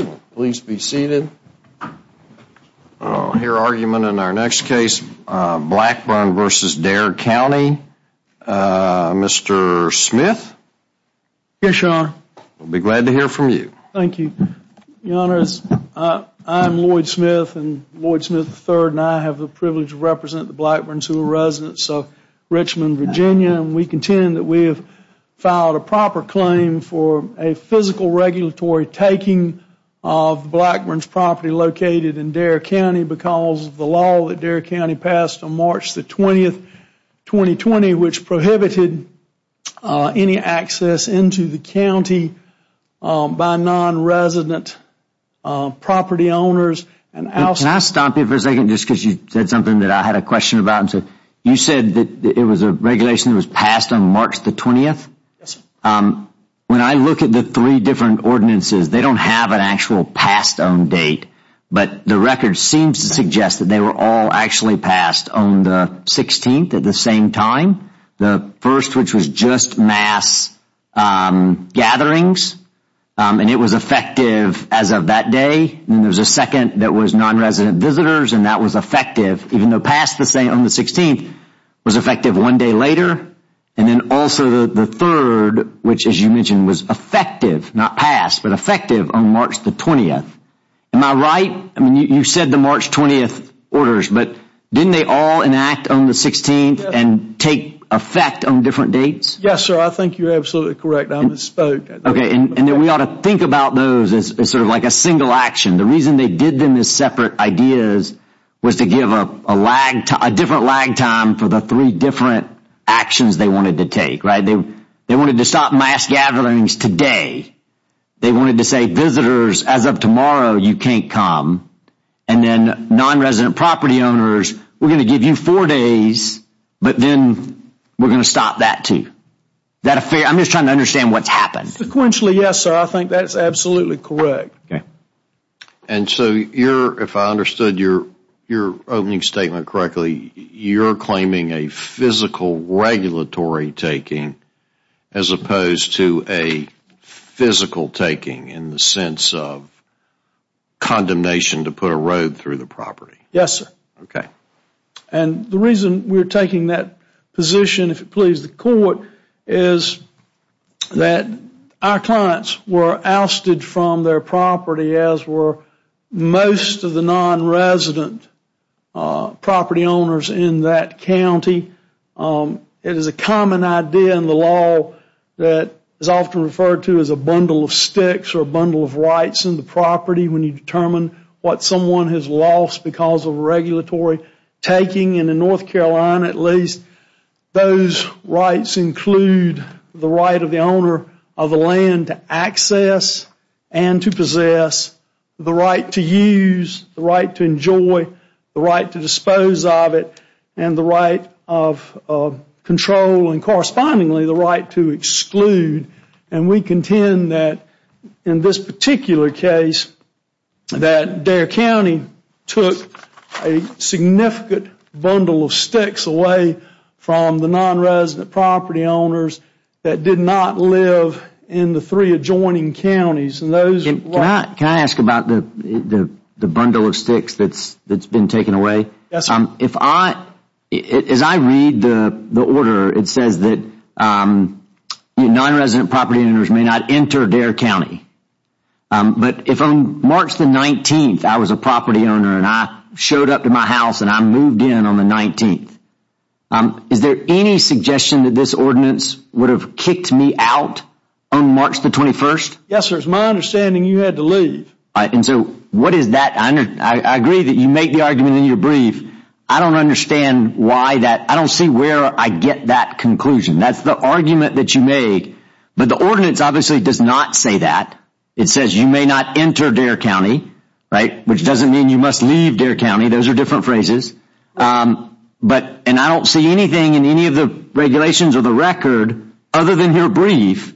I am Lloyd Smith III and I have the privilege of representing the Blackburns who are residents and we contend that we have filed a proper claim for a physical regulatory taking of Blackburn's property located in Dare County because of the law that Dare County passed on March the 20th, 2020, which prohibited any access into the county by non-resident property owners. Can I stop you for a second just because you said something that I had a question about You said that it was a regulation that was passed on March the 20th. When I look at the three different ordinances, they don't have an actual passed on date, but the record seems to suggest that they were all actually passed on the 16th at the same time. The first which was just mass gatherings and it was effective as of that day and there was a second that was non-resident visitors and that was effective even though passed the same on the 16th was effective one day later and then also the third which as you mentioned was effective, not passed, but effective on March the 20th. Am I right? You said the March 20th orders, but didn't they all enact on the 16th and take effect on different dates? Yes, sir. I think you're absolutely correct. I misspoke. Okay. And then we ought to think about those as sort of like a single action. The reason they did them as separate ideas was to give a different lag time for the three different actions they wanted to take, right? They wanted to stop mass gatherings today. They wanted to say visitors as of tomorrow, you can't come and then non-resident property owners, we're going to give you four days, but then we're going to stop that too. I'm just trying to understand what's happened. Sequentially, yes, sir. I think that's absolutely correct. And so if I understood your opening statement correctly, you're claiming a physical regulatory taking as opposed to a physical taking in the sense of condemnation to put a road through the property? Yes, sir. Okay. And the reason we're taking that position, if it pleases the court, is that our clients were ousted from their property as were most of the non-resident property owners in that county. It is a common idea in the law that is often referred to as a bundle of sticks or a bundle of rights in the property when you determine what someone has lost because of regulatory taking, and in North Carolina at least, those rights include the right of the owner of the land to access and to possess, the right to use, the right to enjoy, the right to dispose of it, and the right of control and correspondingly the right to exclude. And we contend that in this particular case that Dare County took a significant bundle of sticks away from the non-resident property owners that did not live in the three adjoining counties. Can I ask about the bundle of sticks that's been taken away? Yes, sir. If I, as I read the order, it says that non-resident property owners may not enter Dare County, but if on March the 19th I was a property owner and I showed up to my house and I moved in on the 19th, is there any suggestion that this ordinance would have kicked me out on March the 21st? Yes, sir. It's my understanding you had to leave. And so what is that? I agree that you make the argument in your brief. I don't understand why that, I don't see where I get that conclusion. That's the argument that you make, but the ordinance obviously does not say that. It says you may not enter Dare County, right, which doesn't mean you must leave Dare County. Those are different phrases. And I don't see anything in any of the regulations or the record other than your brief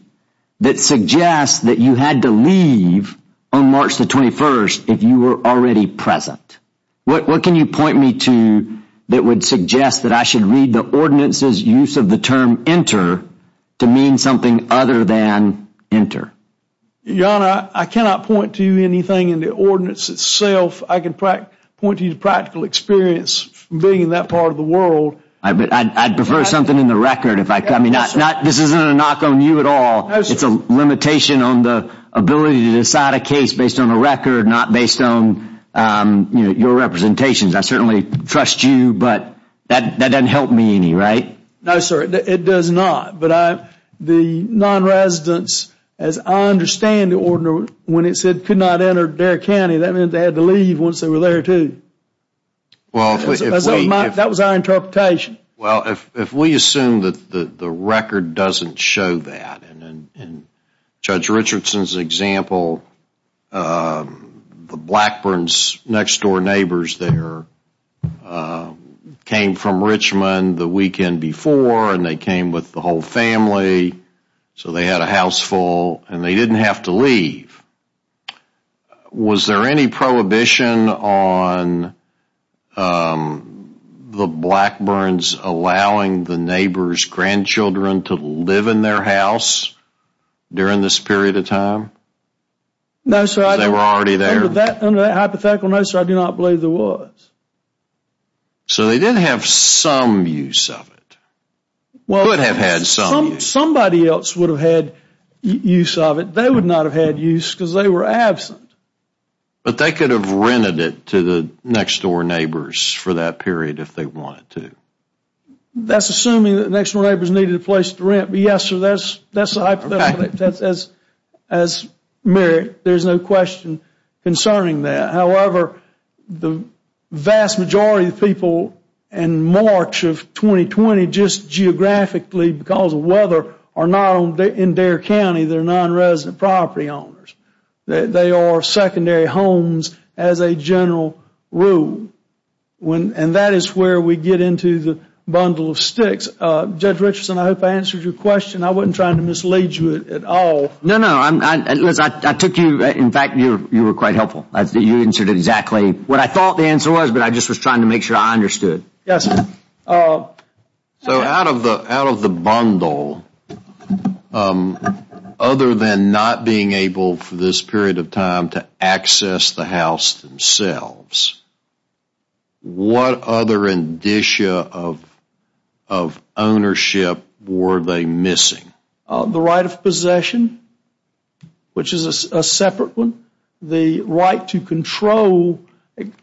that suggests that you had to leave on March the 21st if you were already present. What can you point me to that would suggest that I should read the ordinance's use of the term enter to mean something other than enter? Your Honor, I cannot point to anything in the ordinance itself. I can point to your practical experience being in that part of the world. I'd prefer something in the record. This isn't a knock on you at all. It's a limitation on the ability to decide a case based on a record, not based on your representations. I certainly trust you, but that doesn't help me any, right? No, sir, it does not. But the non-residents, as I understand the ordinance, when it said could not enter Dare County, that meant they had to leave once they were there, too. Well, that was our interpretation. If we assume that the record doesn't show that, in Judge Richardson's example, the Blackburns next door neighbors there came from Richmond the weekend before, and they came with the whole family, so they had a house full, and they didn't have to leave, was there any prohibition on the Blackburns allowing the neighbor's grandchildren to live in their house during this period of time? No, sir. Because they were already there? Under that hypothetical, no, sir, I do not believe there was. So they did have some use of it. Could have had some use. Somebody else would have had use of it. They would not have had use because they were absent. But they could have rented it to the next-door neighbors for that period if they wanted to. That's assuming that next-door neighbors needed a place to rent, but yes, sir, that's a hypothetical. As Mayor, there's no question concerning that. However, the vast majority of people in March of 2020, just geographically because of weather, are not in Dare County, they're non-resident property owners. They are secondary homes as a general rule. And that is where we get into the bundle of sticks. Judge Richardson, I hope I answered your question. I wasn't trying to mislead you at all. No, no, I took you, in fact, you were quite helpful. You answered exactly what I thought the answer was, but I just was trying to make sure I understood. Yes, sir. So out of the bundle, other than not being able for this period of time to access the house themselves, what other indicia of ownership were they missing? The right of possession, which is a separate one. The right to control,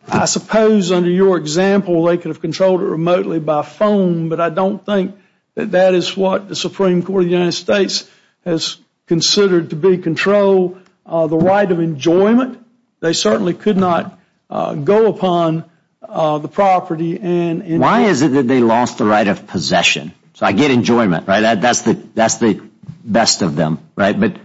I suppose under your example, they could have controlled it remotely by phone, but I don't think that that is what the Supreme Court of the United States has considered to be control. The right of enjoyment, they certainly could not go upon the property. Why is it that they lost the right of possession? So I get enjoyment, right? That's the best of them, right? But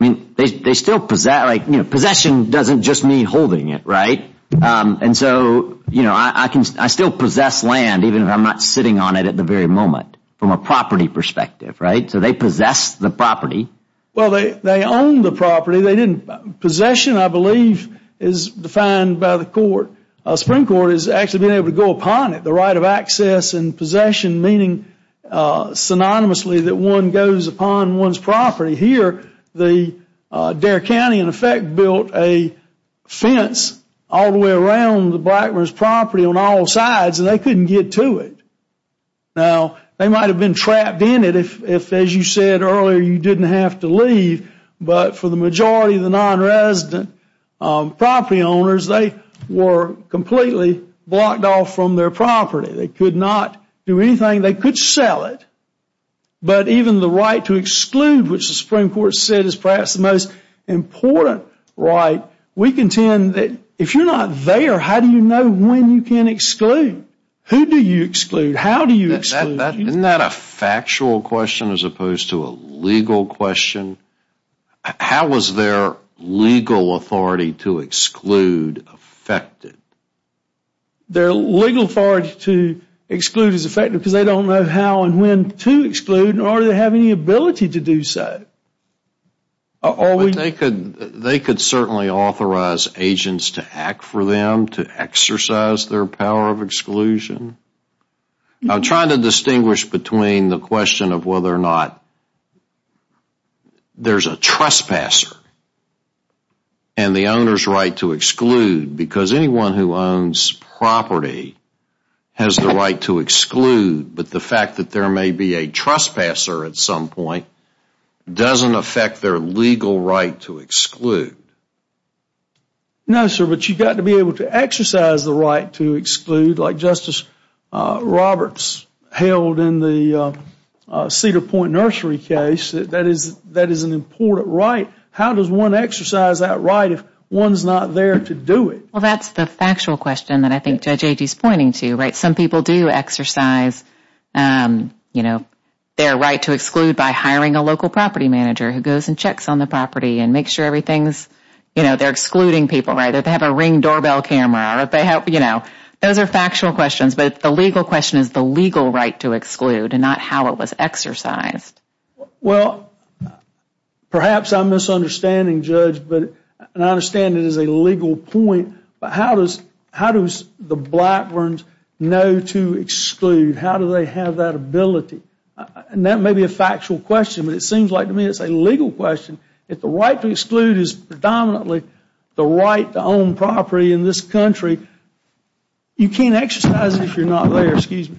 they still possess, possession doesn't just mean holding it, right? And so, you know, I still possess land even if I'm not sitting on it at the very moment from a property perspective, right? So they possess the property. Well, they own the property. Possession I believe is defined by the Supreme Court as actually being able to go upon it, the right of access and possession meaning synonymously that one goes upon one's property. Here, the, Dare County in effect built a fence all the way around the Blackburns' property on all sides and they couldn't get to it. Now, they might have been trapped in it if, as you said earlier, you didn't have to leave, but for the majority of the non-resident property owners, they were completely blocked off from their property. They could not do anything. They could sell it, but even the right to exclude, which the Supreme Court said is perhaps the most important right, we contend that if you're not there, how do you know when you can exclude? Who do you exclude? How do you exclude? Isn't that a factual question as opposed to a legal question? How is their legal authority to exclude affected? Their legal authority to exclude is affected because they don't know how and when to exclude nor do they have any ability to do so. They could certainly authorize agents to act for them to exercise their power of exclusion. I'm trying to distinguish between the question of whether or not there's a trespasser and the owner's right to exclude because anyone who owns property has the right to exclude, but the fact that there may be a trespasser at some point doesn't affect their legal right to exclude. No, sir, but you've got to be able to exercise the right to exclude like Justice Roberts held in the Cedar Point Nursery case. That is an important right. How does one exercise that right if one is not there to do it? Well, that's the factual question that I think Judge Agee is pointing to. Some people do exercise their right to exclude by hiring a local property manager who goes and checks on the property and makes sure everything is, you know, they're excluding people. They have a ring doorbell camera. Those are factual questions, but the legal question is the legal right to exclude and not how it was exercised. Well, perhaps I'm misunderstanding, Judge, and I understand it is a legal point, but how does the Blackburns know to exclude? How do they have that ability? That may be a factual question, but it seems like to me it's a legal question. If the right to exclude is predominantly the right to own property in this country, you can't exercise it if you're not there. Excuse me.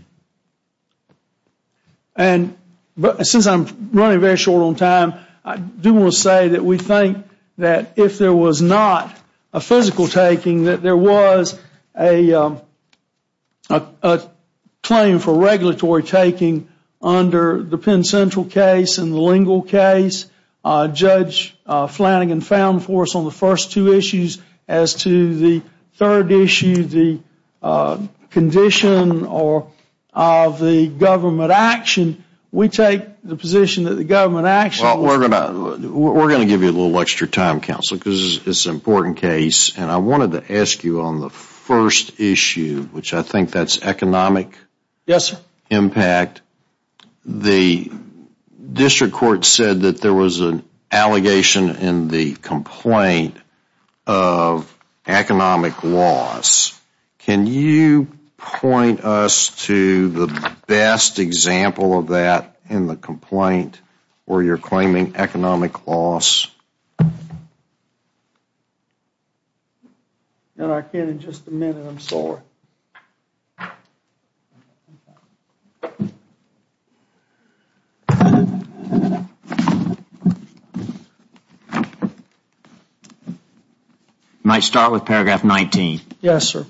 And since I'm running very short on time, I do want to say that we think that if there was not a physical taking, that there was a claim for regulatory taking under the Penn Central case and the Lingle case. Judge Flanagan found for us on the first two issues as to the third issue, the condition of the government action, we take the position that the government action Well, we're going to give you a little extra time, Counselor, because this is an important case and I wanted to ask you on the first issue, which I think that's economic impact. The district court said that there was an allegation in the complaint of economic loss. Can you point us to the best example of that in the complaint where you're claiming economic loss? I can't in just a minute, I'm sorry. You might start with paragraph 19. Yes, sir.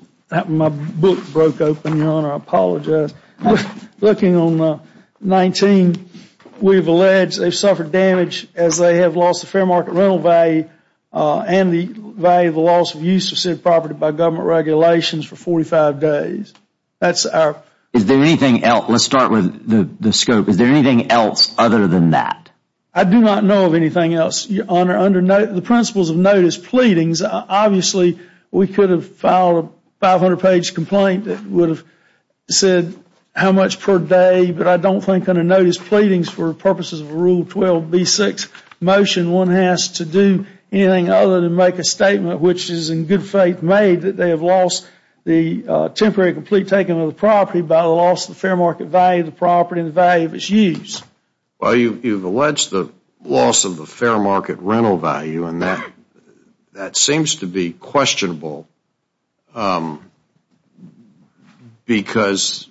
My book broke open, Your Honor, I apologize. Looking on 19, we've alleged they've suffered damage as they have lost the fair market rental value and the value of the loss of use of city property by government regulations for 45 days. Let's start with the scope. Is there anything else other than that? I do not know of anything else, Your Honor. The principles of notice pleadings, obviously we could have filed a 500 page complaint that would have said how much per day, but I don't think under notice pleadings for purposes of Rule 12B6 motion, one has to do anything other than make a statement which is in good faith made that they have lost the temporary complete taking of the property by the loss of the fair market value of the property and the value of its use. You've alleged the loss of the fair market rental value and that seems to be questionable because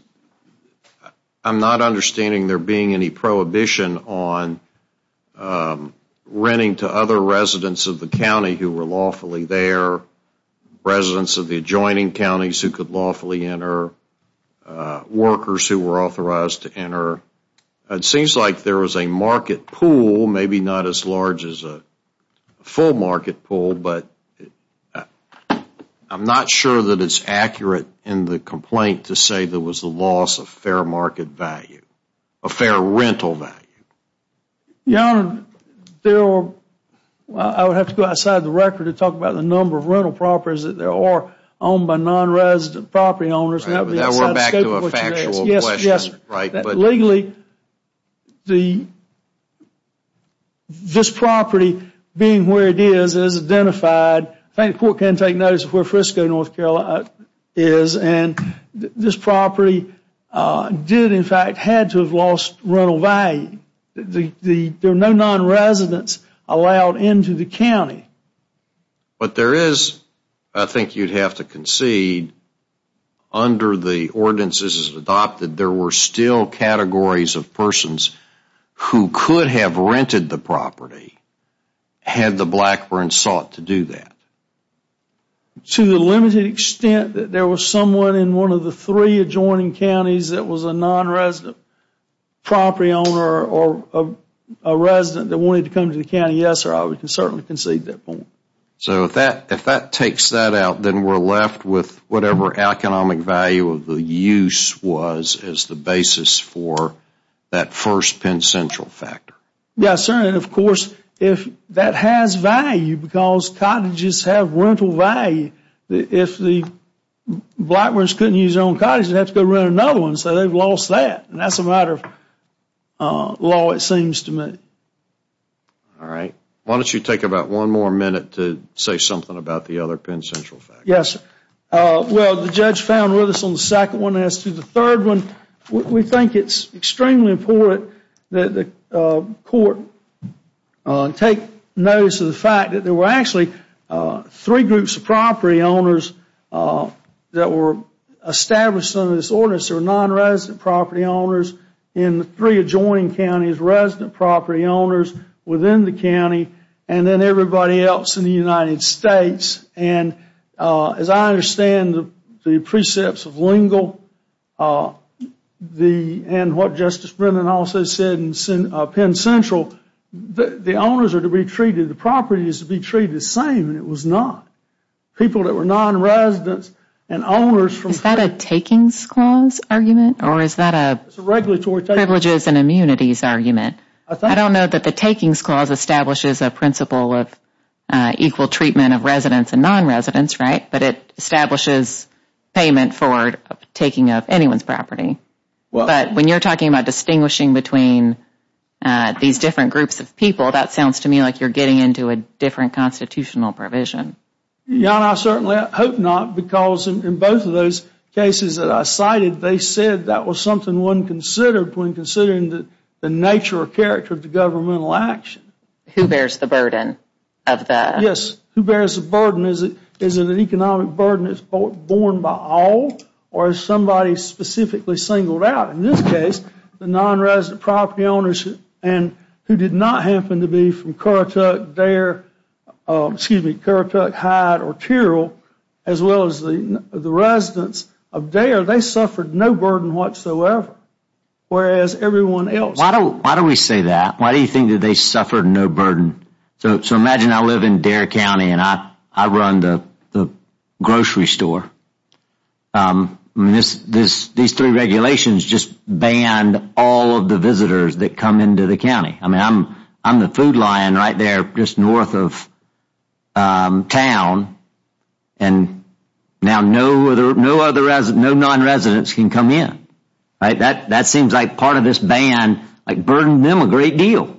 I'm not understanding there being any prohibition on renting to other residents of the county who were lawfully there, residents of the adjoining counties who could lawfully enter, workers who were authorized to enter. It seems like there was a market pool, maybe not as large as a full market pool, but I'm not sure that it's accurate in the complaint to say there was a loss of fair market value, a fair rental value. Your Honor, I would have to go outside of the record to talk about the number of rental properties that there are owned by non-resident property owners. Now we're back to a factual question. Legally, this property, being where it is, is identified, I think the court can take notice of where Frisco, North Carolina is, and this property did in fact had to have lost rental value. There are no non-residents allowed into the county. But there is, I think you'd have to concede, under the ordinances adopted there were still categories of persons who could have rented the property had the Blackburns sought to do that. To the limited extent that there was someone in one of the three adjoining counties that was a property owner or a resident that wanted to come to the county, yes, I would certainly concede that point. So if that takes that out, then we're left with whatever economic value of the use was as the basis for that first Penn Central factor. Yes, sir, and of course, if that has value because cottages have rental value, if the Blackburns couldn't use their own cottage, they'd have to go rent another one, so they've got a different law, it seems to me. All right, why don't you take about one more minute to say something about the other Penn Central factor? Yes, well, the judge found with us on the second one as to the third one, we think it's extremely important that the court take notice of the fact that there were actually three groups of property owners that were established under this ordinance, or non-resident property owners in the three adjoining counties, resident property owners within the county, and then everybody else in the United States. And as I understand the precepts of LINGO, and what Justice Brennan also said in Penn Central, the owners are to be treated, the property is to be treated the same, and it was not. People that were non-residents and owners from... Is that a takings clause argument, or is that a privileges and immunities argument? I don't know that the takings clause establishes a principle of equal treatment of residents and non-residents, right, but it establishes payment for taking of anyone's property. But when you're talking about distinguishing between these different groups of people, that sounds to me like you're getting into a different constitutional provision. Yeah, and I certainly hope not, because in both of those cases that I cited, they said that was something one considered when considering the nature or character of the governmental action. Who bears the burden of that? Yes, who bears the burden? Is it an economic burden that's borne by all, or is somebody specifically singled out? In this case, the non-resident property owners, and who did not happen to be from Currituck, Hyde, or Terrell, as well as the residents of Dare, they suffered no burden whatsoever, whereas everyone else... Why do we say that? Why do you think that they suffered no burden? So imagine I live in Dare County, and I run the grocery store. These three regulations just ban all of the visitors that come into the county. I'm the food line right there just north of town, and now no non-residents can come in. That seems like part of this ban burdened them a great deal.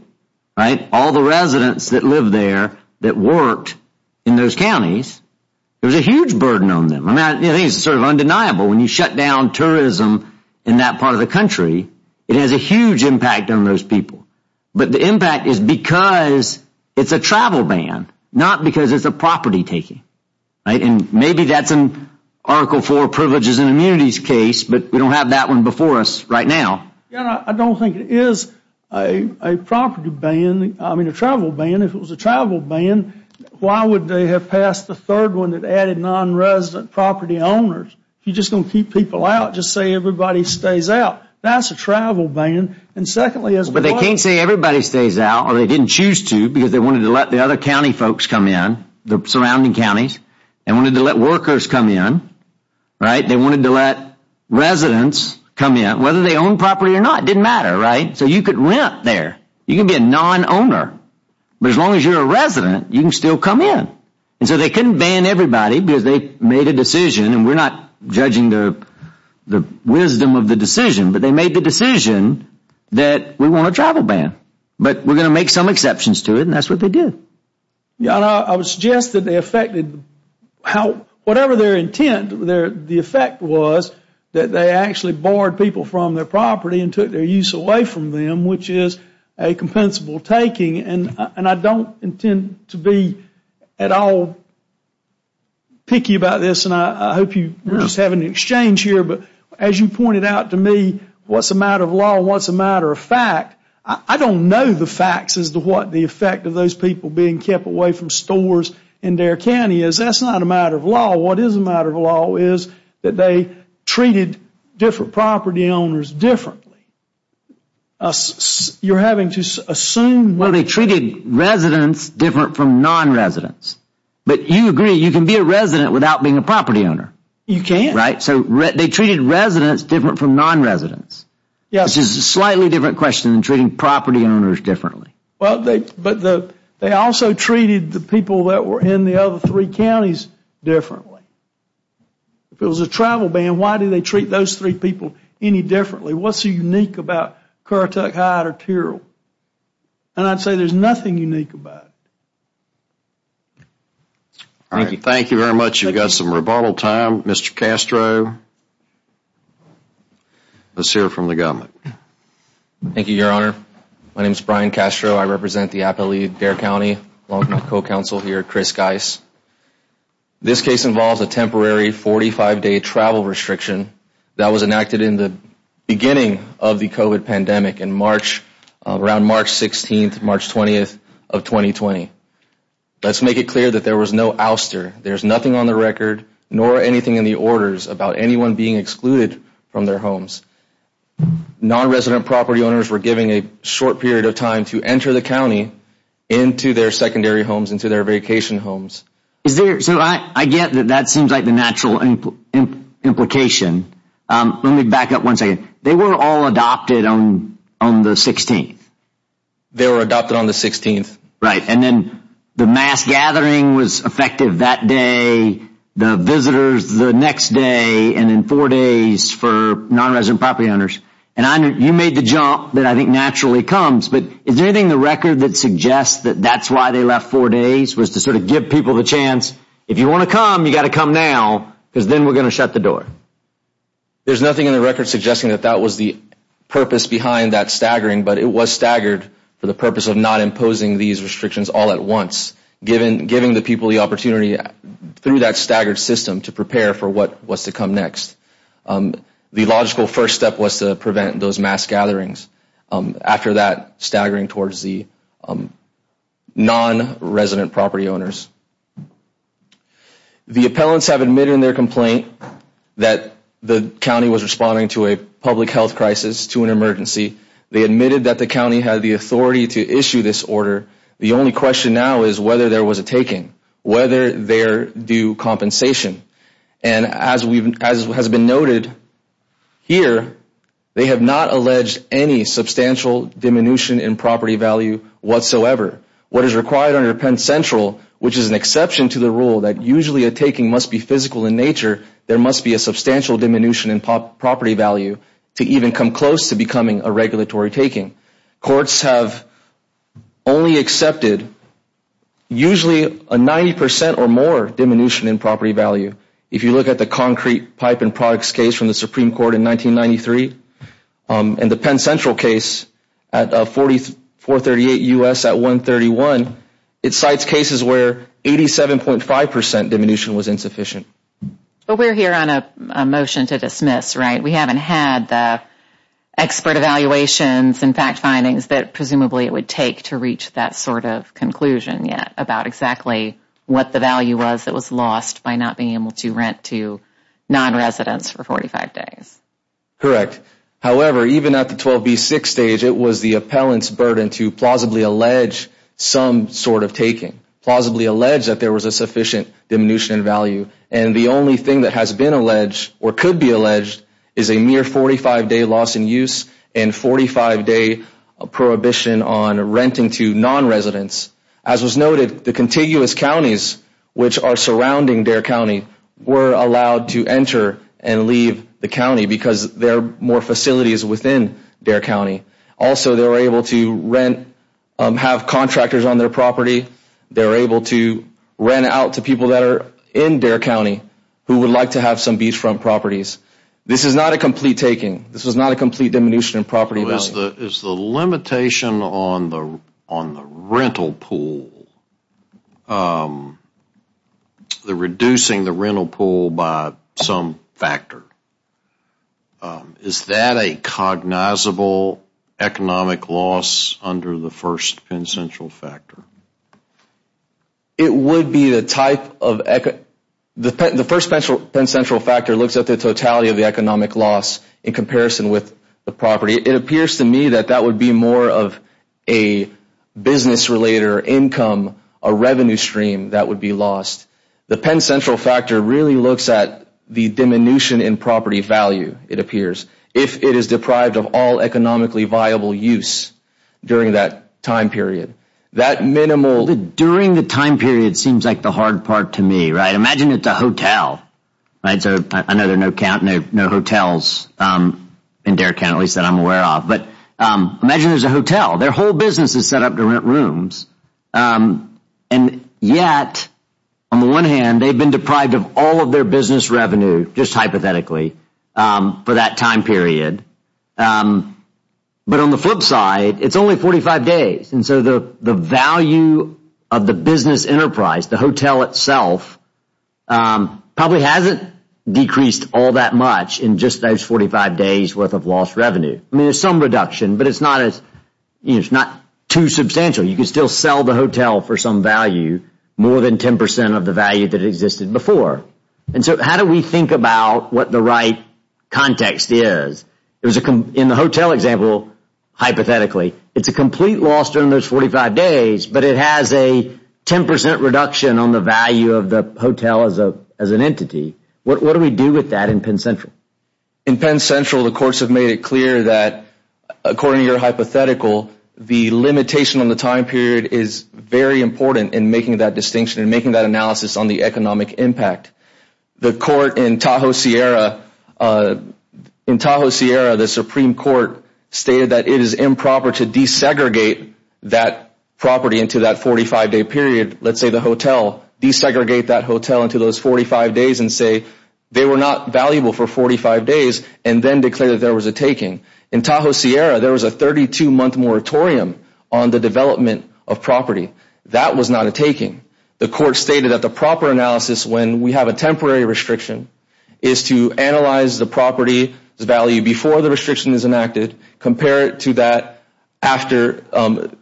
All the residents that lived there that worked in those counties, there was a huge burden on them. I think it's sort of undeniable when you shut down tourism in that part of the country, it has a huge impact on those people. But the impact is because it's a travel ban, not because it's a property taking. Maybe that's an Article IV privileges and immunities case, but we don't have that one before us right now. I don't think it is a property ban, I mean a travel ban. If it was a travel ban, why would they have passed the third one that added non-resident property owners? If you're just going to keep people out, just say everybody stays out. That's a travel ban. But they can't say everybody stays out, or they didn't choose to, because they wanted to let the other county folks come in, the surrounding counties, and wanted to let workers come in. They wanted to let residents come in, whether they owned property or not, it didn't matter. So you could rent there, you could be a non-owner, but as long as you're a resident, you can still come in. So they couldn't ban everybody because they made a decision, and we're not judging the decision, but they made the decision that we want a travel ban. But we're going to make some exceptions to it, and that's what they did. I would suggest that whatever their intent, the effect was that they actually barred people from their property and took their use away from them, which is a compensable taking, and I don't intend to be at all picky about this, and I hope we're just having an exchange here, but as you pointed out to me, what's a matter of law, what's a matter of fact, I don't know the facts as to what the effect of those people being kept away from stores in their county is. That's not a matter of law. What is a matter of law is that they treated different property owners differently. You're having to assume. Well, they treated residents different from non-residents, but you agree, you can be a resident without being a property owner. You can. So they treated residents different from non-residents, which is a slightly different question than treating property owners differently. But they also treated the people that were in the other three counties differently. If it was a travel ban, why do they treat those three people any differently? What's unique about Currituck, Hyatt, or Terrell? And I'd say there's nothing unique about it. Thank you very much. We've got some rebuttal time. Mr. Castro, let's hear it from the government. Thank you, Your Honor. My name is Brian Castro. I represent the Appalachian-Bear County, along with my co-counsel here, Chris Geis. This case involves a temporary 45-day travel restriction that was enacted in the beginning of the COVID pandemic in March, around March 16th, March 20th of 2020. Let's make it clear that there was no ouster. There's nothing on the record, nor anything in the orders, about anyone being excluded from their homes. Non-resident property owners were given a short period of time to enter the county into their secondary homes, into their vacation homes. So I get that that seems like the natural implication. Let me back up one second. They were all adopted on the 16th? They were adopted on the 16th. Right. And then the mass gathering was effective that day, the visitors the next day, and then four days for non-resident property owners. And you made the jump that I think naturally comes, but is there anything in the record that suggests that that's why they left four days, was to sort of give people the chance, if you want to come, you got to come now, because then we're going to shut the door. There's nothing in the record suggesting that that was the purpose behind that staggering, but it was staggered for the purpose of not imposing these restrictions all at once, giving the people the opportunity through that staggered system to prepare for what was to come next. The logical first step was to prevent those mass gatherings. After that, staggering towards the non-resident property owners. The appellants have admitted in their complaint that the county was responding to a public health crisis, to an emergency. They admitted that the county had the authority to issue this order. The only question now is whether there was a taking, whether there due compensation. And as has been noted here, they have not alleged any substantial diminution in property value whatsoever. What is required under Penn Central, which is an exception to the rule that usually a taking must be physical in nature, there must be a substantial diminution in property value to even come close to becoming a regulatory taking. Courts have only accepted usually a 90% or more diminution in property value. If you look at the concrete pipe and products case from the Supreme Court in 1993, and the Penn Central case at 438 U.S. at 131, it cites cases where 87.5% diminution was insufficient. We are here on a motion to dismiss, right? We haven't had the expert evaluations and fact findings that presumably it would take to reach that sort of conclusion yet about exactly what the value was that was lost by not being able to rent to non-residents for 45 days. Correct. However, even at the 12B6 stage, it was the appellant's burden to plausibly allege some sort of taking, plausibly allege that there was a sufficient diminution in value. And the only thing that has been alleged or could be alleged is a mere 45-day loss in use and 45-day prohibition on renting to non-residents. As was noted, the contiguous counties which are surrounding Dare County were allowed to enter and leave the county because there are more facilities within Dare County. Also, they were able to rent, have contractors on their property. They were able to rent out to people that are in Dare County who would like to have some beachfront properties. This is not a complete taking. This was not a complete diminution in property value. Is the limitation on the rental pool, the reducing the rental pool by some factor, is that a cognizable economic loss under the first Penn Central factor? It would be the type of, the first Penn Central factor looks at the totality of the economic loss in comparison with the property. It appears to me that that would be more of a business-related income, a revenue stream that would be lost. The Penn Central factor really looks at the diminution in property value, it appears, if it is deprived of all economically viable use during that time period. That minimal... During the time period seems like the hard part to me. Imagine it's a hotel. I know there are no hotels in Dare County, at least that I'm aware of, but imagine there's a hotel. Their whole business is set up to rent rooms, and yet, on the one hand, they've been deprived of all of their business revenue, just hypothetically, for that time period. But on the flip side, it's only 45 days, and so the value of the business enterprise, the hotel itself, probably hasn't decreased all that much in just those 45 days' worth of lost revenue. There's some reduction, but it's not too substantial. You can still sell the hotel for some value, more than 10% of the value that existed before. How do we think about what the right context is? In the hotel example, hypothetically, it's a complete loss during those 45 days, but it has a 10% reduction on the value of the hotel as an entity. What do we do with that in Penn Central? In Penn Central, the courts have made it clear that, according to your hypothetical, the limitation on the time period is very important in making that distinction and making that analysis on the economic impact. The court in Tahoe, Sierra, the Supreme Court, stated that it is improper to desegregate that property into that 45-day period, let's say the hotel, desegregate that hotel into those 45 days and say they were not valuable for 45 days, and then declare that there was a taking. In Tahoe, Sierra, there was a 32-month moratorium on the development of property. That was not a taking. The court stated that the proper analysis, when we have a temporary restriction, is to analyze the property's value before the restriction is enacted, compare it to that after the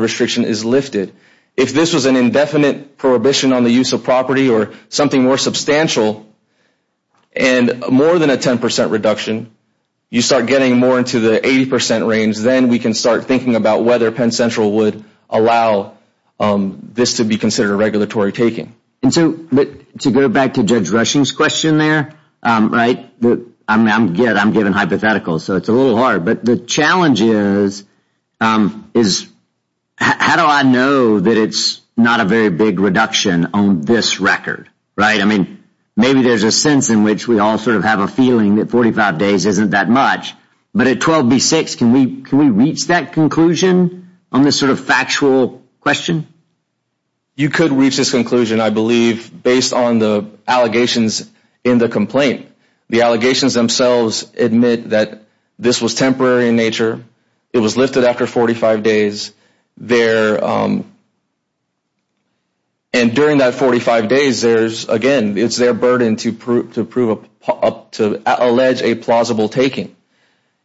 restriction is lifted. If this was an indefinite prohibition on the use of property or something more substantial and more than a 10% reduction, you start getting more into the 80% range, then we can start thinking about whether Penn Central would allow this to be considered a regulatory taking. To go back to Judge Rushing's question, I'm given hypotheticals, so it's a little hard, but the challenge is, how do I know that it's not a very big reduction on this record? Maybe there's a sense in which we all have a feeling that 45 days isn't that much, but at 12B6, can we reach that conclusion on this factual question? You could reach this conclusion, I believe, based on the allegations in the complaint. The allegations themselves admit that this was temporary in nature. It was lifted after 45 days, and during that 45 days, again, it's their burden to allege a plausible taking.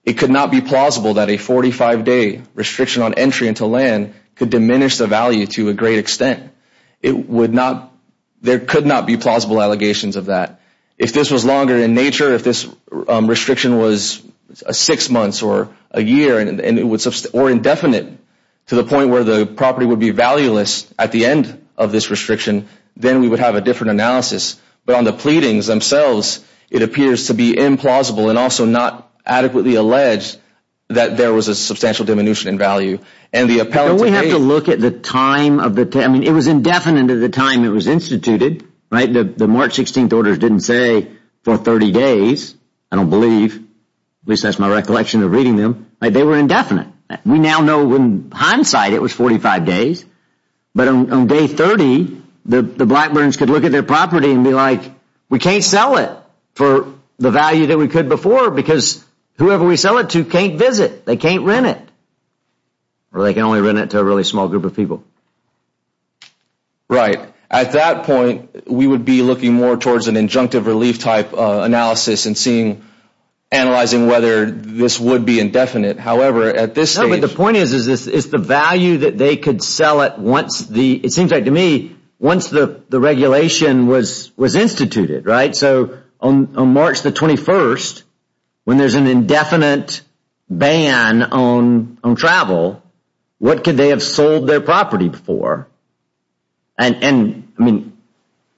It could not be plausible that a 45-day restriction on entry into land could diminish the value to a great extent. There could not be plausible allegations of that. If this was longer in nature, if this restriction was six months or a year, or indefinite to the point where the property would be valueless at the end of this restriction, then we would have a different analysis, but on the pleadings themselves, it appears to be implausible and also not adequately alleged that there was a substantial diminution in value. Don't we have to look at the time? It was indefinite at the time it was instituted. The March 16th orders didn't say for 30 days, I don't believe, at least that's my recollection of reading them, they were indefinite. We now know in hindsight it was 45 days, but on day 30, the Blackburns could look at their property and be like, we can't sell it for the value that we could before because whoever we sell it to can't visit, they can't rent it, or they can only rent it to a really small group of people. Right, at that point, we would be looking more towards an injunctive relief type analysis and seeing, analyzing whether this would be indefinite, however, at this stage... No, but the point is, is the value that they could sell it once the, it seems like to me, once the regulation was instituted, right? So on March the 21st, when there's an indefinite ban on travel, what could they have sold their property for? And, I mean,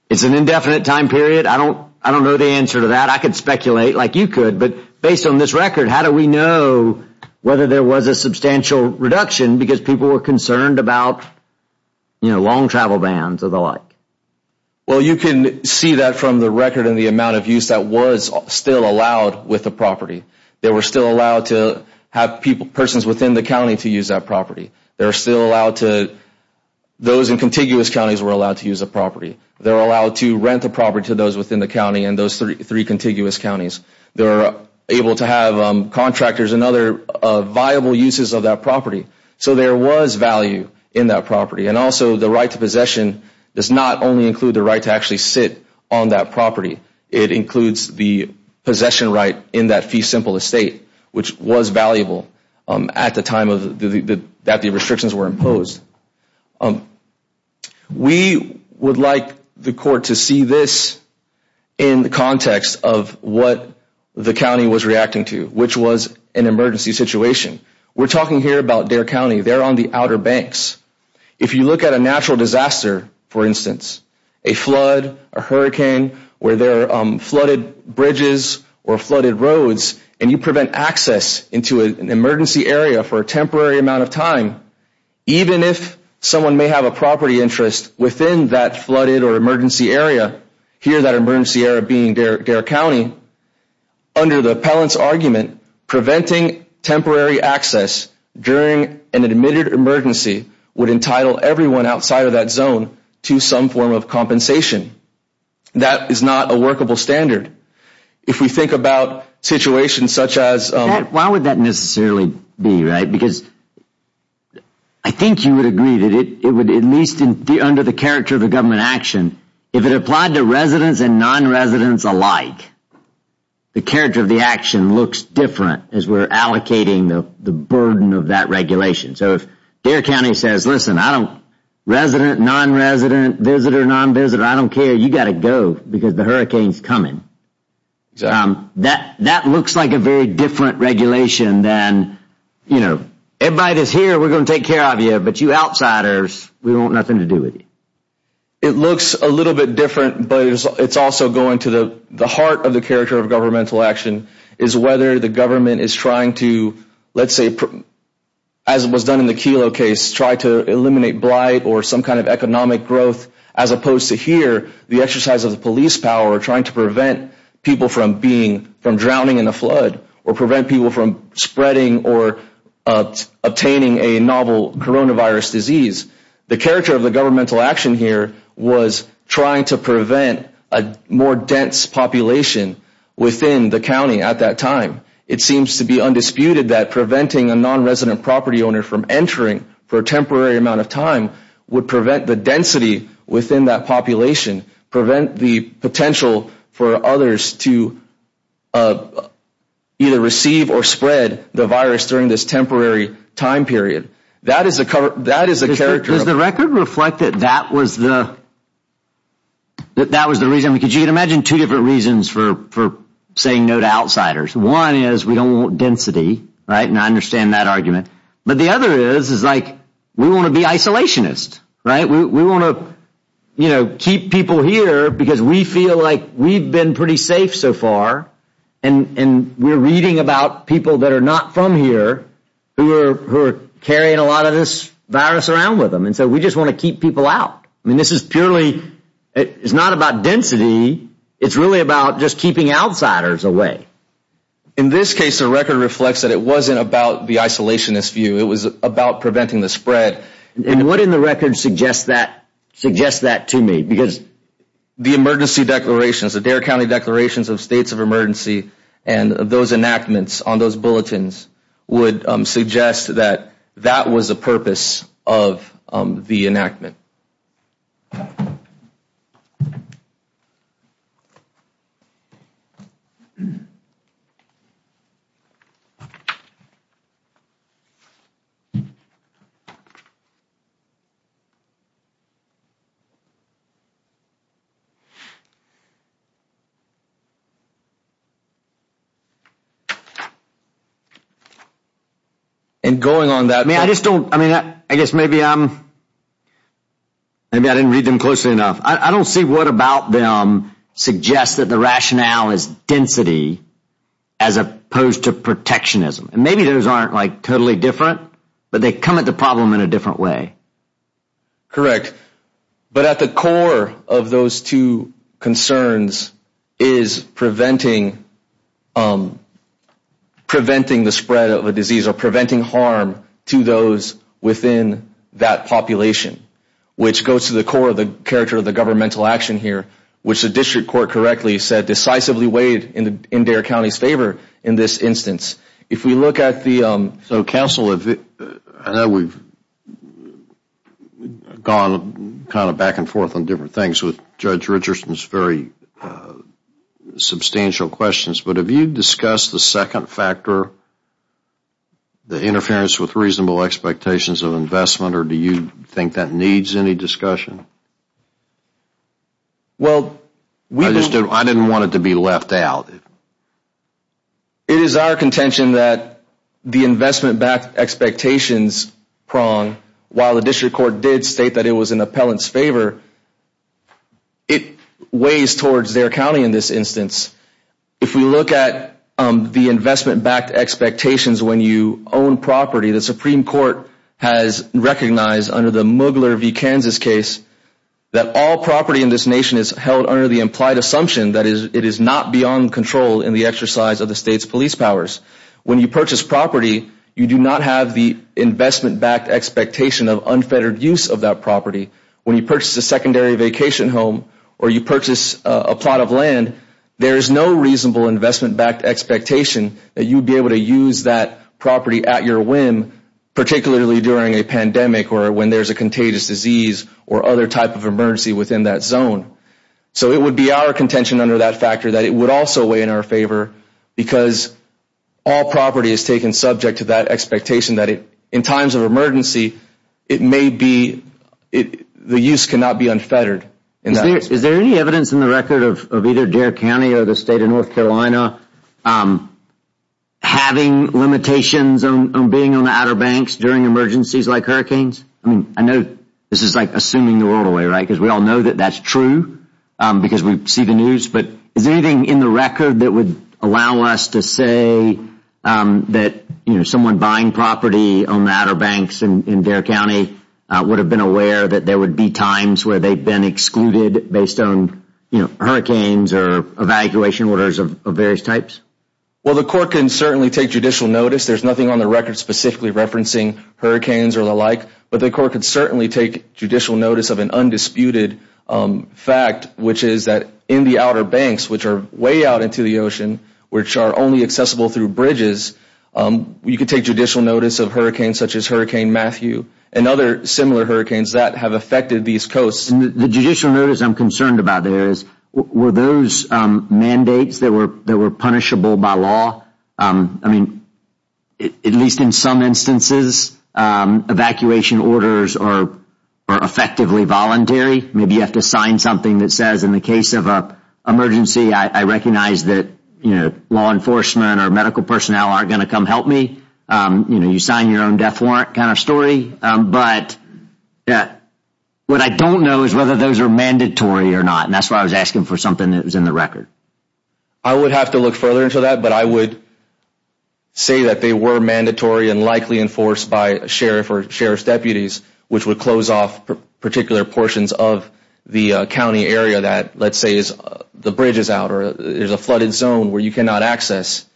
it's an indefinite time period, I don't know the answer to that, I could speculate like you could, but based on this record, how do we know whether there was a substantial reduction because people were concerned about, you know, long travel bans or the like? Well, you can see that from the record and the amount of use that was still allowed with the property. They were still allowed to have people, persons within the county to use that property. They were still allowed to, those in contiguous counties were allowed to use the property. They were allowed to rent the property to those within the county and those three contiguous counties. They were able to have contractors and other viable uses of that property. So there was value in that property and also the right to possession does not only include the right to actually sit on that property. It includes the possession right in that fee simple estate, which was valuable at the time that the restrictions were imposed. We would like the court to see this in the context of what the county was reacting to, which was an emergency situation. We're talking here about Dare County, they're on the outer banks. If you look at a natural disaster, for instance, a flood, a hurricane, where there are flooded bridges or flooded roads and you prevent access into an emergency area for a temporary amount of time, even if someone may have a property interest within that flooded or emergency area, here that emergency area being Dare County, under the appellant's argument, preventing temporary access during an admitted emergency would entitle everyone outside of that zone to some form of compensation. That is not a workable standard. If we think about situations such as... Why would that necessarily be, right? Because I think you would agree that it would, at least under the character of a government action, if it applied to residents and non-residents alike, the character of the action looks different as we're allocating the burden of that regulation. So if Dare County says, listen, resident, non-resident, visitor, non-visitor, I don't care, you've got to go because the hurricane is coming, that looks like a very different regulation than, you know, everybody is here, we're going to take care of you, but you outsiders, we want nothing to do with you. It looks a little bit different, but it's also going to the heart of the character of done in the Kelo case, try to eliminate blight or some kind of economic growth, as opposed to here, the exercise of the police power, trying to prevent people from drowning in a flood or prevent people from spreading or obtaining a novel coronavirus disease. The character of the governmental action here was trying to prevent a more dense population within the county at that time. It seems to be undisputed that preventing a non-resident property owner from entering for a temporary amount of time would prevent the density within that population, prevent the potential for others to either receive or spread the virus during this temporary time period. That is a character. Does the record reflect that that was the, that was the reason, because you can imagine two different reasons for saying no to outsiders. One is we don't want density, right, and I understand that argument. But the other is, is like, we want to be isolationist, right? We want to, you know, keep people here because we feel like we've been pretty safe so far and we're reading about people that are not from here who are carrying a lot of this virus around with them. And so we just want to keep people out. I mean, this is purely, it's not about density. It's really about just keeping outsiders away. In this case, the record reflects that it wasn't about the isolationist view. It was about preventing the spread. And what in the record suggests that, suggests that to me? Because the emergency declarations, the DARE County declarations of states of emergency and those enactments on those bulletins would suggest that that was the purpose of the enactment. And going on that, I just don't, I mean, I guess maybe I'm, maybe I didn't read them closely enough. I don't see what about them suggests that the rationale is density as opposed to protectionism. Maybe those aren't like totally different, but they come at the problem in a different way. Correct. But at the core of those two concerns is preventing, preventing the spread of a disease or preventing harm to those within that population, which goes to the core of the character of the governmental action here, which the district court correctly said decisively weighed in DARE County's favor in this instance. If we look at the, so counsel, I know we've gone kind of back and forth on different things with Judge Richardson's very substantial questions, but have you discussed the second factor, the interference with reasonable expectations of investment, or do you think that needs any discussion? Well, I just don't, I didn't want it to be left out. It is our contention that the investment-backed expectations prong, while the district court did state that it was in appellant's favor, it weighs towards DARE County in this instance. If we look at the investment-backed expectations when you own property, the Supreme Court has recognized under the Moogler v. Kansas case that all property in this nation is held under the implied assumption that it is not beyond control in the exercise of the state's police powers. When you purchase property, you do not have the investment-backed expectation of unfettered use of that property. When you purchase a secondary vacation home or you purchase a plot of land, there is no reasonable investment-backed expectation that you would be able to use that property at your whim, particularly during a pandemic or when there's a contagious disease or other type of emergency within that zone. So it would be our contention under that factor that it would also weigh in our favor because all property is taken subject to that expectation that in times of emergency, it may be, the use cannot be unfettered. Is there any evidence in the record of either DARE County or the state of North Carolina having limitations on being on the outer banks during emergencies like hurricanes? I know this is like assuming the world away, right, because we all know that that's true because we see the news, but is there anything in the record that would allow us to say that someone buying property on the outer banks in DARE County would have been aware that there would be times where they've been excluded based on hurricanes or evacuation orders of various types? Well, the court can certainly take judicial notice. There's nothing on the record specifically referencing hurricanes or the like, but the court could certainly take judicial notice of an undisputed fact, which is that in the outer banks, which are way out into the ocean, which are only accessible through bridges, you could take judicial notice of hurricanes such as Hurricane Matthew and other similar hurricanes that have affected these coasts. The judicial notice I'm concerned about there is, were those mandates that were punishable by law? I mean, at least in some instances, evacuation orders are effectively voluntary. Maybe you have to sign something that says, in the case of an emergency, I recognize that law enforcement or medical personnel aren't going to come help me. You sign your own death warrant kind of story, but what I don't know is whether those are mandatory or not, and that's why I was asking for something that was in the record. I would have to look further into that, but I would say that they were mandatory and likely enforced by sheriff or sheriff's deputies, which would close off particular portions of the county area that, let's say, the bridge is out or there's a flooded zone where you cannot access.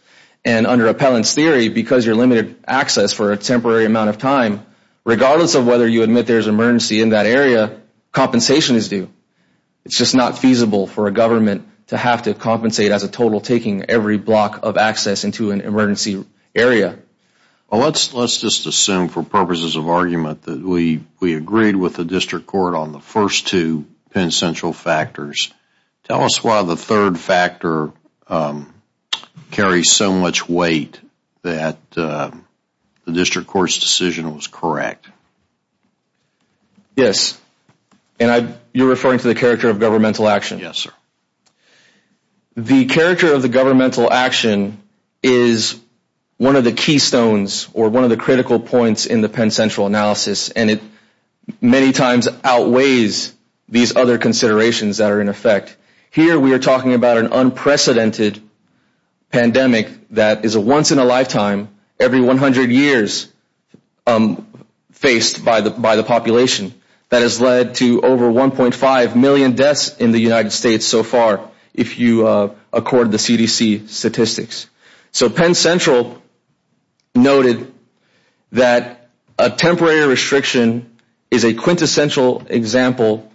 And under appellant's theory, because you're limited access for a temporary amount of time, regardless of whether you admit there's an emergency in that area, compensation is due. It's just not feasible for a government to have to compensate as a total, taking every block of access into an emergency area. Well, let's just assume, for purposes of argument, that we agreed with the district court on the first two penitential factors. Tell us why the third factor carries so much weight that the district court's decision was correct. Yes. And you're referring to the character of governmental action? Yes, sir. The character of the governmental action is one of the keystones or one of the critical points in the penitential analysis, and it many times outweighs these other considerations that are in effect. Here, we are talking about an unprecedented pandemic that is a once in a lifetime every 100 years faced by the population. That has led to over 1.5 million deaths in the United States so far, if you accord the CDC statistics. So Penn Central noted that a temporary restriction is a quintessential example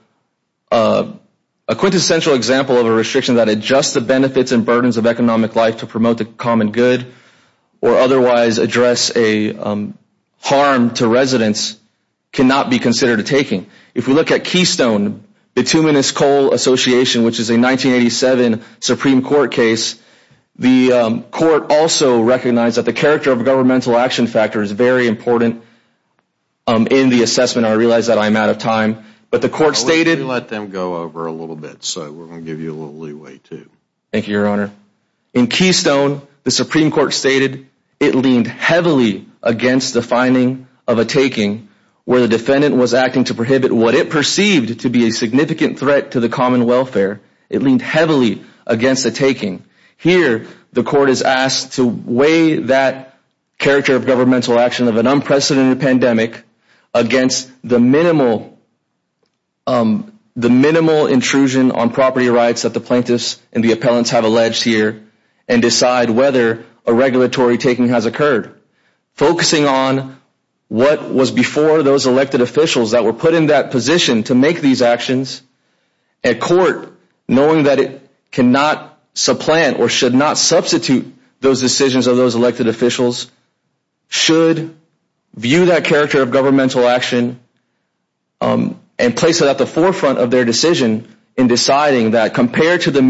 of a restriction that adjusts the benefits and burdens of economic life to promote the common good or otherwise address a harm to residents cannot be considered a taking. If we look at Keystone, the Tuminous Coal Association, which is a 1987 Supreme Court case, the court also recognized that the character of governmental action factor is very important in the assessment. I realize that I'm out of time. But the court stated... Let them go over a little bit, so we're going to give you a little leeway, too. Thank you, Your Honor. In Keystone, the Supreme Court stated, it leaned heavily against the finding of a taking where the defendant was acting to prohibit what it perceived to be a significant threat to the common welfare. It leaned heavily against the taking. Here, the court is asked to weigh that character of governmental action of an unprecedented pandemic against the minimal intrusion on property rights that the plaintiffs and the plaintiffs here and decide whether a regulatory taking has occurred. Focusing on what was before those elected officials that were put in that position to make these actions, a court, knowing that it cannot supplant or should not substitute those decisions of those elected officials, should view that character of governmental action and place it at the forefront of their decision in deciding that, compared to the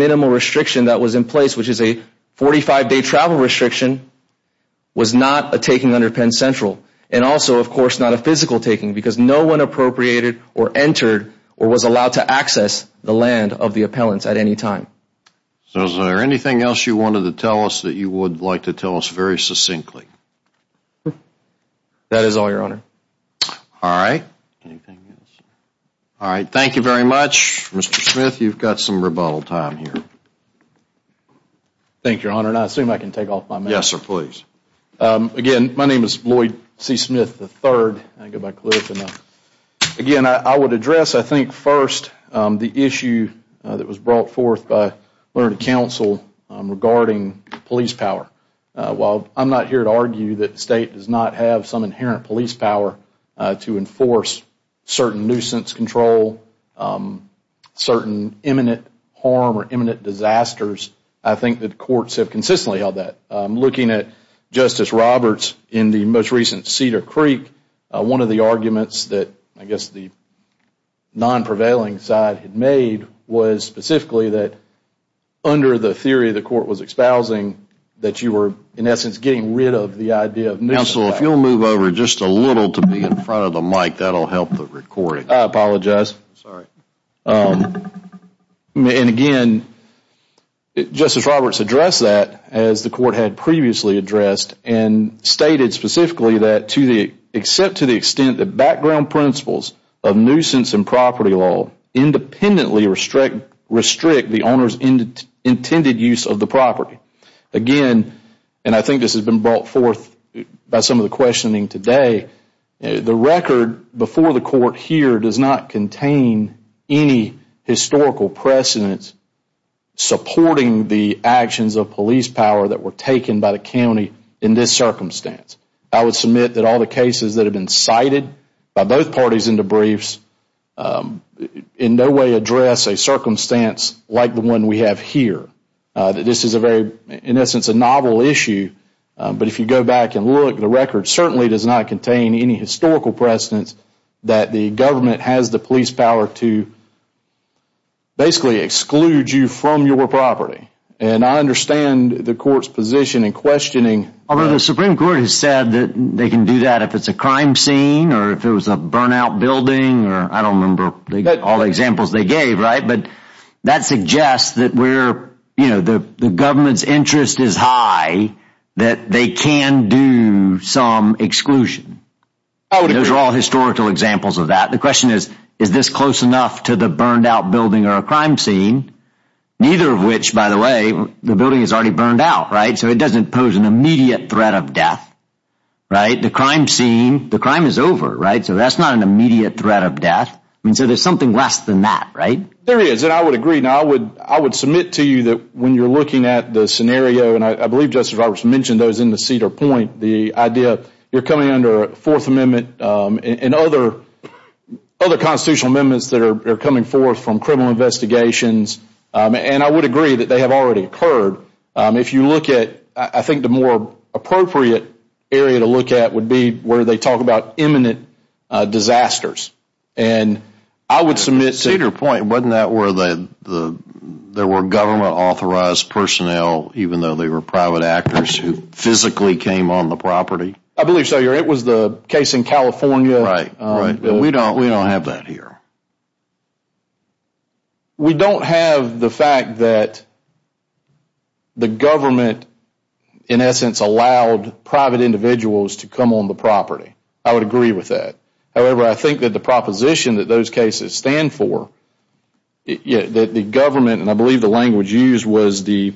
case, which is a 45-day travel restriction, was not a taking under Penn Central. And also, of course, not a physical taking, because no one appropriated or entered or was allowed to access the land of the appellant at any time. Is there anything else you wanted to tell us that you would like to tell us very succinctly? That is all, Your Honor. All right. Anything else? All right. Thank you very much, Mr. Smith. You have got some rebuttal time here. Thank you, Your Honor. And I assume I can take off my mask? Yes, sir. Please. Again, my name is Lloyd C. Smith III, and again, I would address, I think, first the issue that was brought forth by Learned Counsel regarding police power. While I am not here to argue that the State does not have some inherent police power to imminent harm or imminent disasters, I think that courts have consistently held that. Looking at Justice Roberts in the most recent Cedar Creek, one of the arguments that I guess the non-prevailing side had made was specifically that under the theory the court was espousing that you were, in essence, getting rid of the idea of nuisance. Counsel, if you will move over just a little to be in front of the mic, that will help the recording. I apologize. Sorry. And again, Justice Roberts addressed that, as the court had previously addressed, and stated specifically that except to the extent that background principles of nuisance and property law independently restrict the owner's intended use of the property, again, and I think this has been brought forth by some of the questioning today, the record before the court here does not contain any historical precedents supporting the actions of police power that were taken by the county in this circumstance. I would submit that all the cases that have been cited by both parties in the briefs in no way address a circumstance like the one we have here. This is, in essence, a novel issue, but if you go back and look, the record certainly does not contain any historical precedents that the government has the police power to basically exclude you from your property, and I understand the court's position in questioning that. Although the Supreme Court has said that they can do that if it's a crime scene or if it was a burnt out building, or I don't remember all the examples they gave, right, but that government's interest is high that they can do some exclusion. Those are all historical examples of that. The question is, is this close enough to the burned out building or a crime scene, neither of which, by the way, the building is already burned out, right, so it doesn't pose an immediate threat of death, right? The crime scene, the crime is over, right, so that's not an immediate threat of death. I mean, so there's something less than that, right? There is, and I would agree. Now, I would submit to you that when you're looking at the scenario, and I believe Justice Robertson mentioned those in the Cedar Point, the idea you're coming under a Fourth Amendment and other constitutional amendments that are coming forth from criminal investigations, and I would agree that they have already occurred. If you look at, I think the more appropriate area to look at would be where they talk about imminent disasters, and I would submit to you Is that where there were government authorized personnel, even though they were private actors who physically came on the property? I believe so, Your Honor. It was the case in California. Right, right. Well, we don't have that here. We don't have the fact that the government, in essence, allowed private individuals to come on the property. I would agree with that. However, I think that the proposition that those cases stand for, that the government, and I believe the language used was the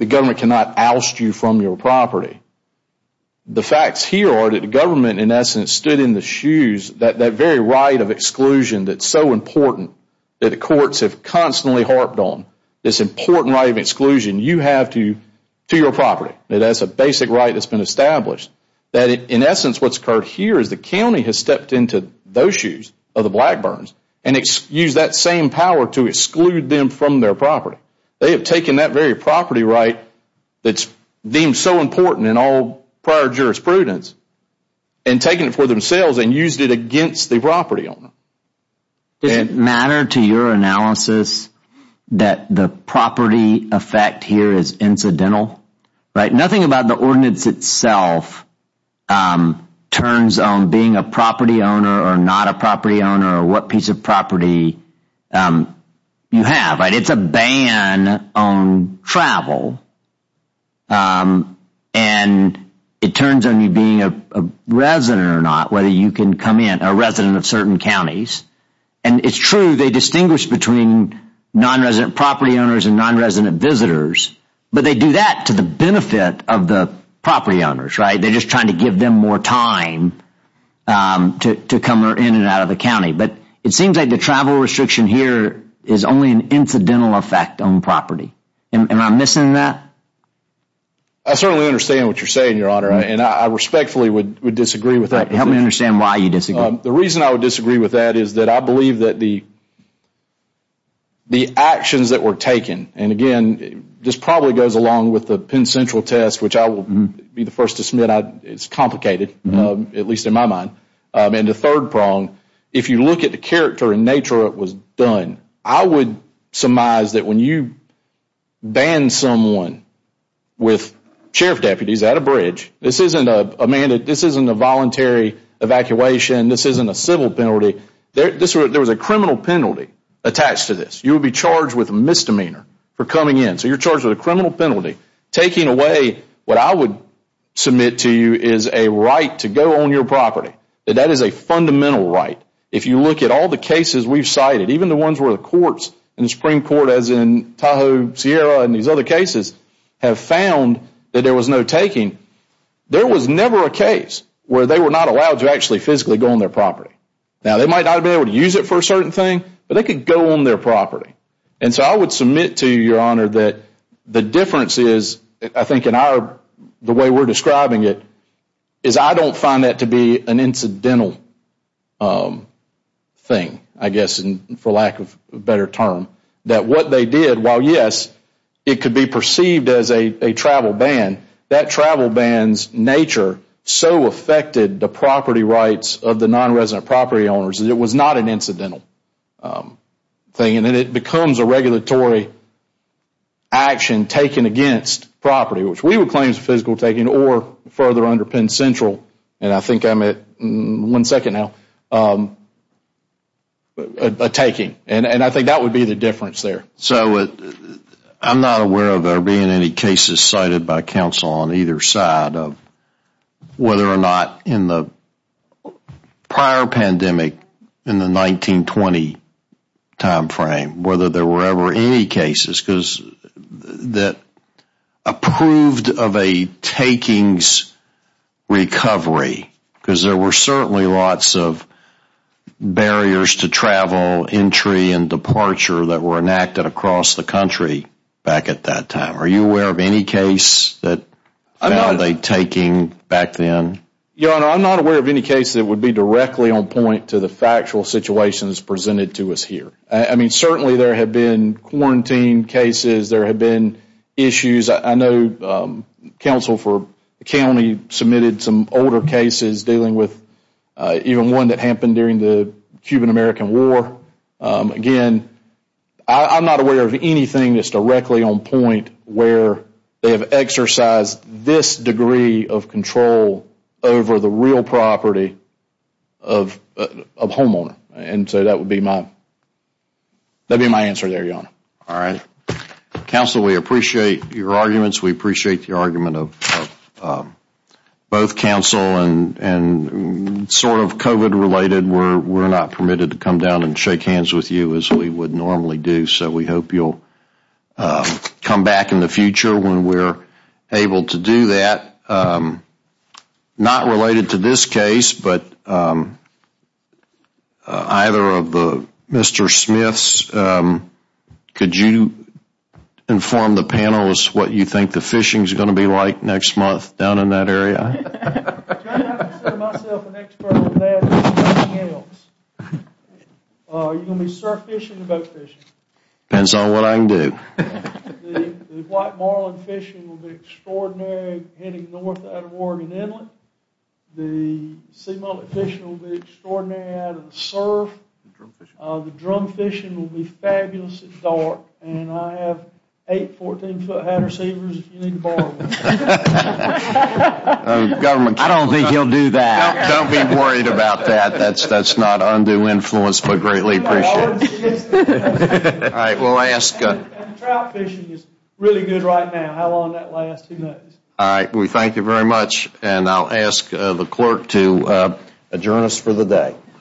government cannot oust you from your property. The facts here are that the government, in essence, stood in the shoes, that very right of exclusion that's so important, that the courts have constantly harped on, this important right of exclusion you have to your property, and that's a basic right that's been established, in essence, what's occurred here is the county has stepped into those shoes of the Blackburns and used that same power to exclude them from their property. They have taken that very property right that's deemed so important in all prior jurisprudence and taken it for themselves and used it against the property owner. Does it matter to your analysis that the property effect here is incidental? Nothing about the ordinance itself turns on being a property owner or not a property owner or what piece of property you have. It's a ban on travel, and it turns on you being a resident or not, whether you can come in a resident of certain counties, and it's true they distinguish between non-resident property owners and non-resident visitors, but they do that to the benefit of the property owners, right? They're just trying to give them more time to come in and out of the county, but it seems like the travel restriction here is only an incidental effect on property, and I'm missing that? I certainly understand what you're saying, Your Honor, and I respectfully would disagree with that. Help me understand why you disagree. The reason I would disagree with that is that I believe that the actions that were taken, and again, this probably goes along with the Penn Central test, which I will be the first to submit. It's complicated, at least in my mind, and the third prong, if you look at the character and nature of what was done, I would surmise that when you ban someone with sheriff deputies at a bridge, this isn't a voluntary evacuation, this isn't a civil penalty, there was a criminal penalty attached to this. You would be charged with misdemeanor for coming in, so you're charged with a criminal penalty. Taking away what I would submit to you is a right to go on your property. That is a fundamental right. If you look at all the cases we've cited, even the ones where the courts and the Supreme Court have found that there was no taking, there was never a case where they were not allowed to actually physically go on their property. Now, they might not have been able to use it for a certain thing, but they could go on their property. So I would submit to you, Your Honor, that the difference is, I think in the way we're describing it, is I don't find that to be an incidental thing, I guess, for lack of a better term, that what they did, while yes, it could be perceived as a travel ban, that travel ban's nature so affected the property rights of the non-resident property owners that it was not an incidental thing, and it becomes a regulatory action taken against property, which we would claim is a physical taking or further under Penn Central, and I think I'm at one second now, a taking. And I think that would be the difference there. So I'm not aware of there being any cases cited by counsel on either side of whether or not in the prior pandemic, in the 1920 timeframe, whether there were ever any cases because that approved of a takings recovery, because there were certainly lots of barriers to travel, entry, and departure that were enacted across the country back at that time. Are you aware of any case that found a taking back then? Your Honor, I'm not aware of any case that would be directly on point to the factual situations presented to us here. I mean, certainly there have been quarantine cases, there have been issues. I know counsel for the county submitted some older cases dealing with even one that happened during the Cuban-American War. Again, I'm not aware of anything that's directly on point where they have exercised this degree of control over the real property of a homeowner. And so that would be my answer there, Your Honor. Counsel, we appreciate your arguments. We appreciate the argument of both counsel and sort of COVID-related, we're not permitted to come down and shake hands with you as we would normally do. So we hope you'll come back in the future when we're able to do that. Not related to this case, but either of the Mr. Smiths, could you inform the panelists what you think the fishing is going to be like next month down in that area? I consider myself an expert on that and nothing else. Are you going to be surf fishing or boat fishing? Depends on what I can do. The white marlin fishing will be extraordinary heading north out of Oregon Inlet. The sea mullet fishing will be extraordinary out of the surf. The drum fishing will be fabulous at dark. And I have eight 14-foot hat receivers if you need to borrow them. I don't think he'll do that. Don't be worried about that. That's not undue influence, but greatly appreciated. Trout fishing is really good right now. How long will that last? Who knows? All right, we thank you very much. And I'll ask the clerk to adjourn us for the day.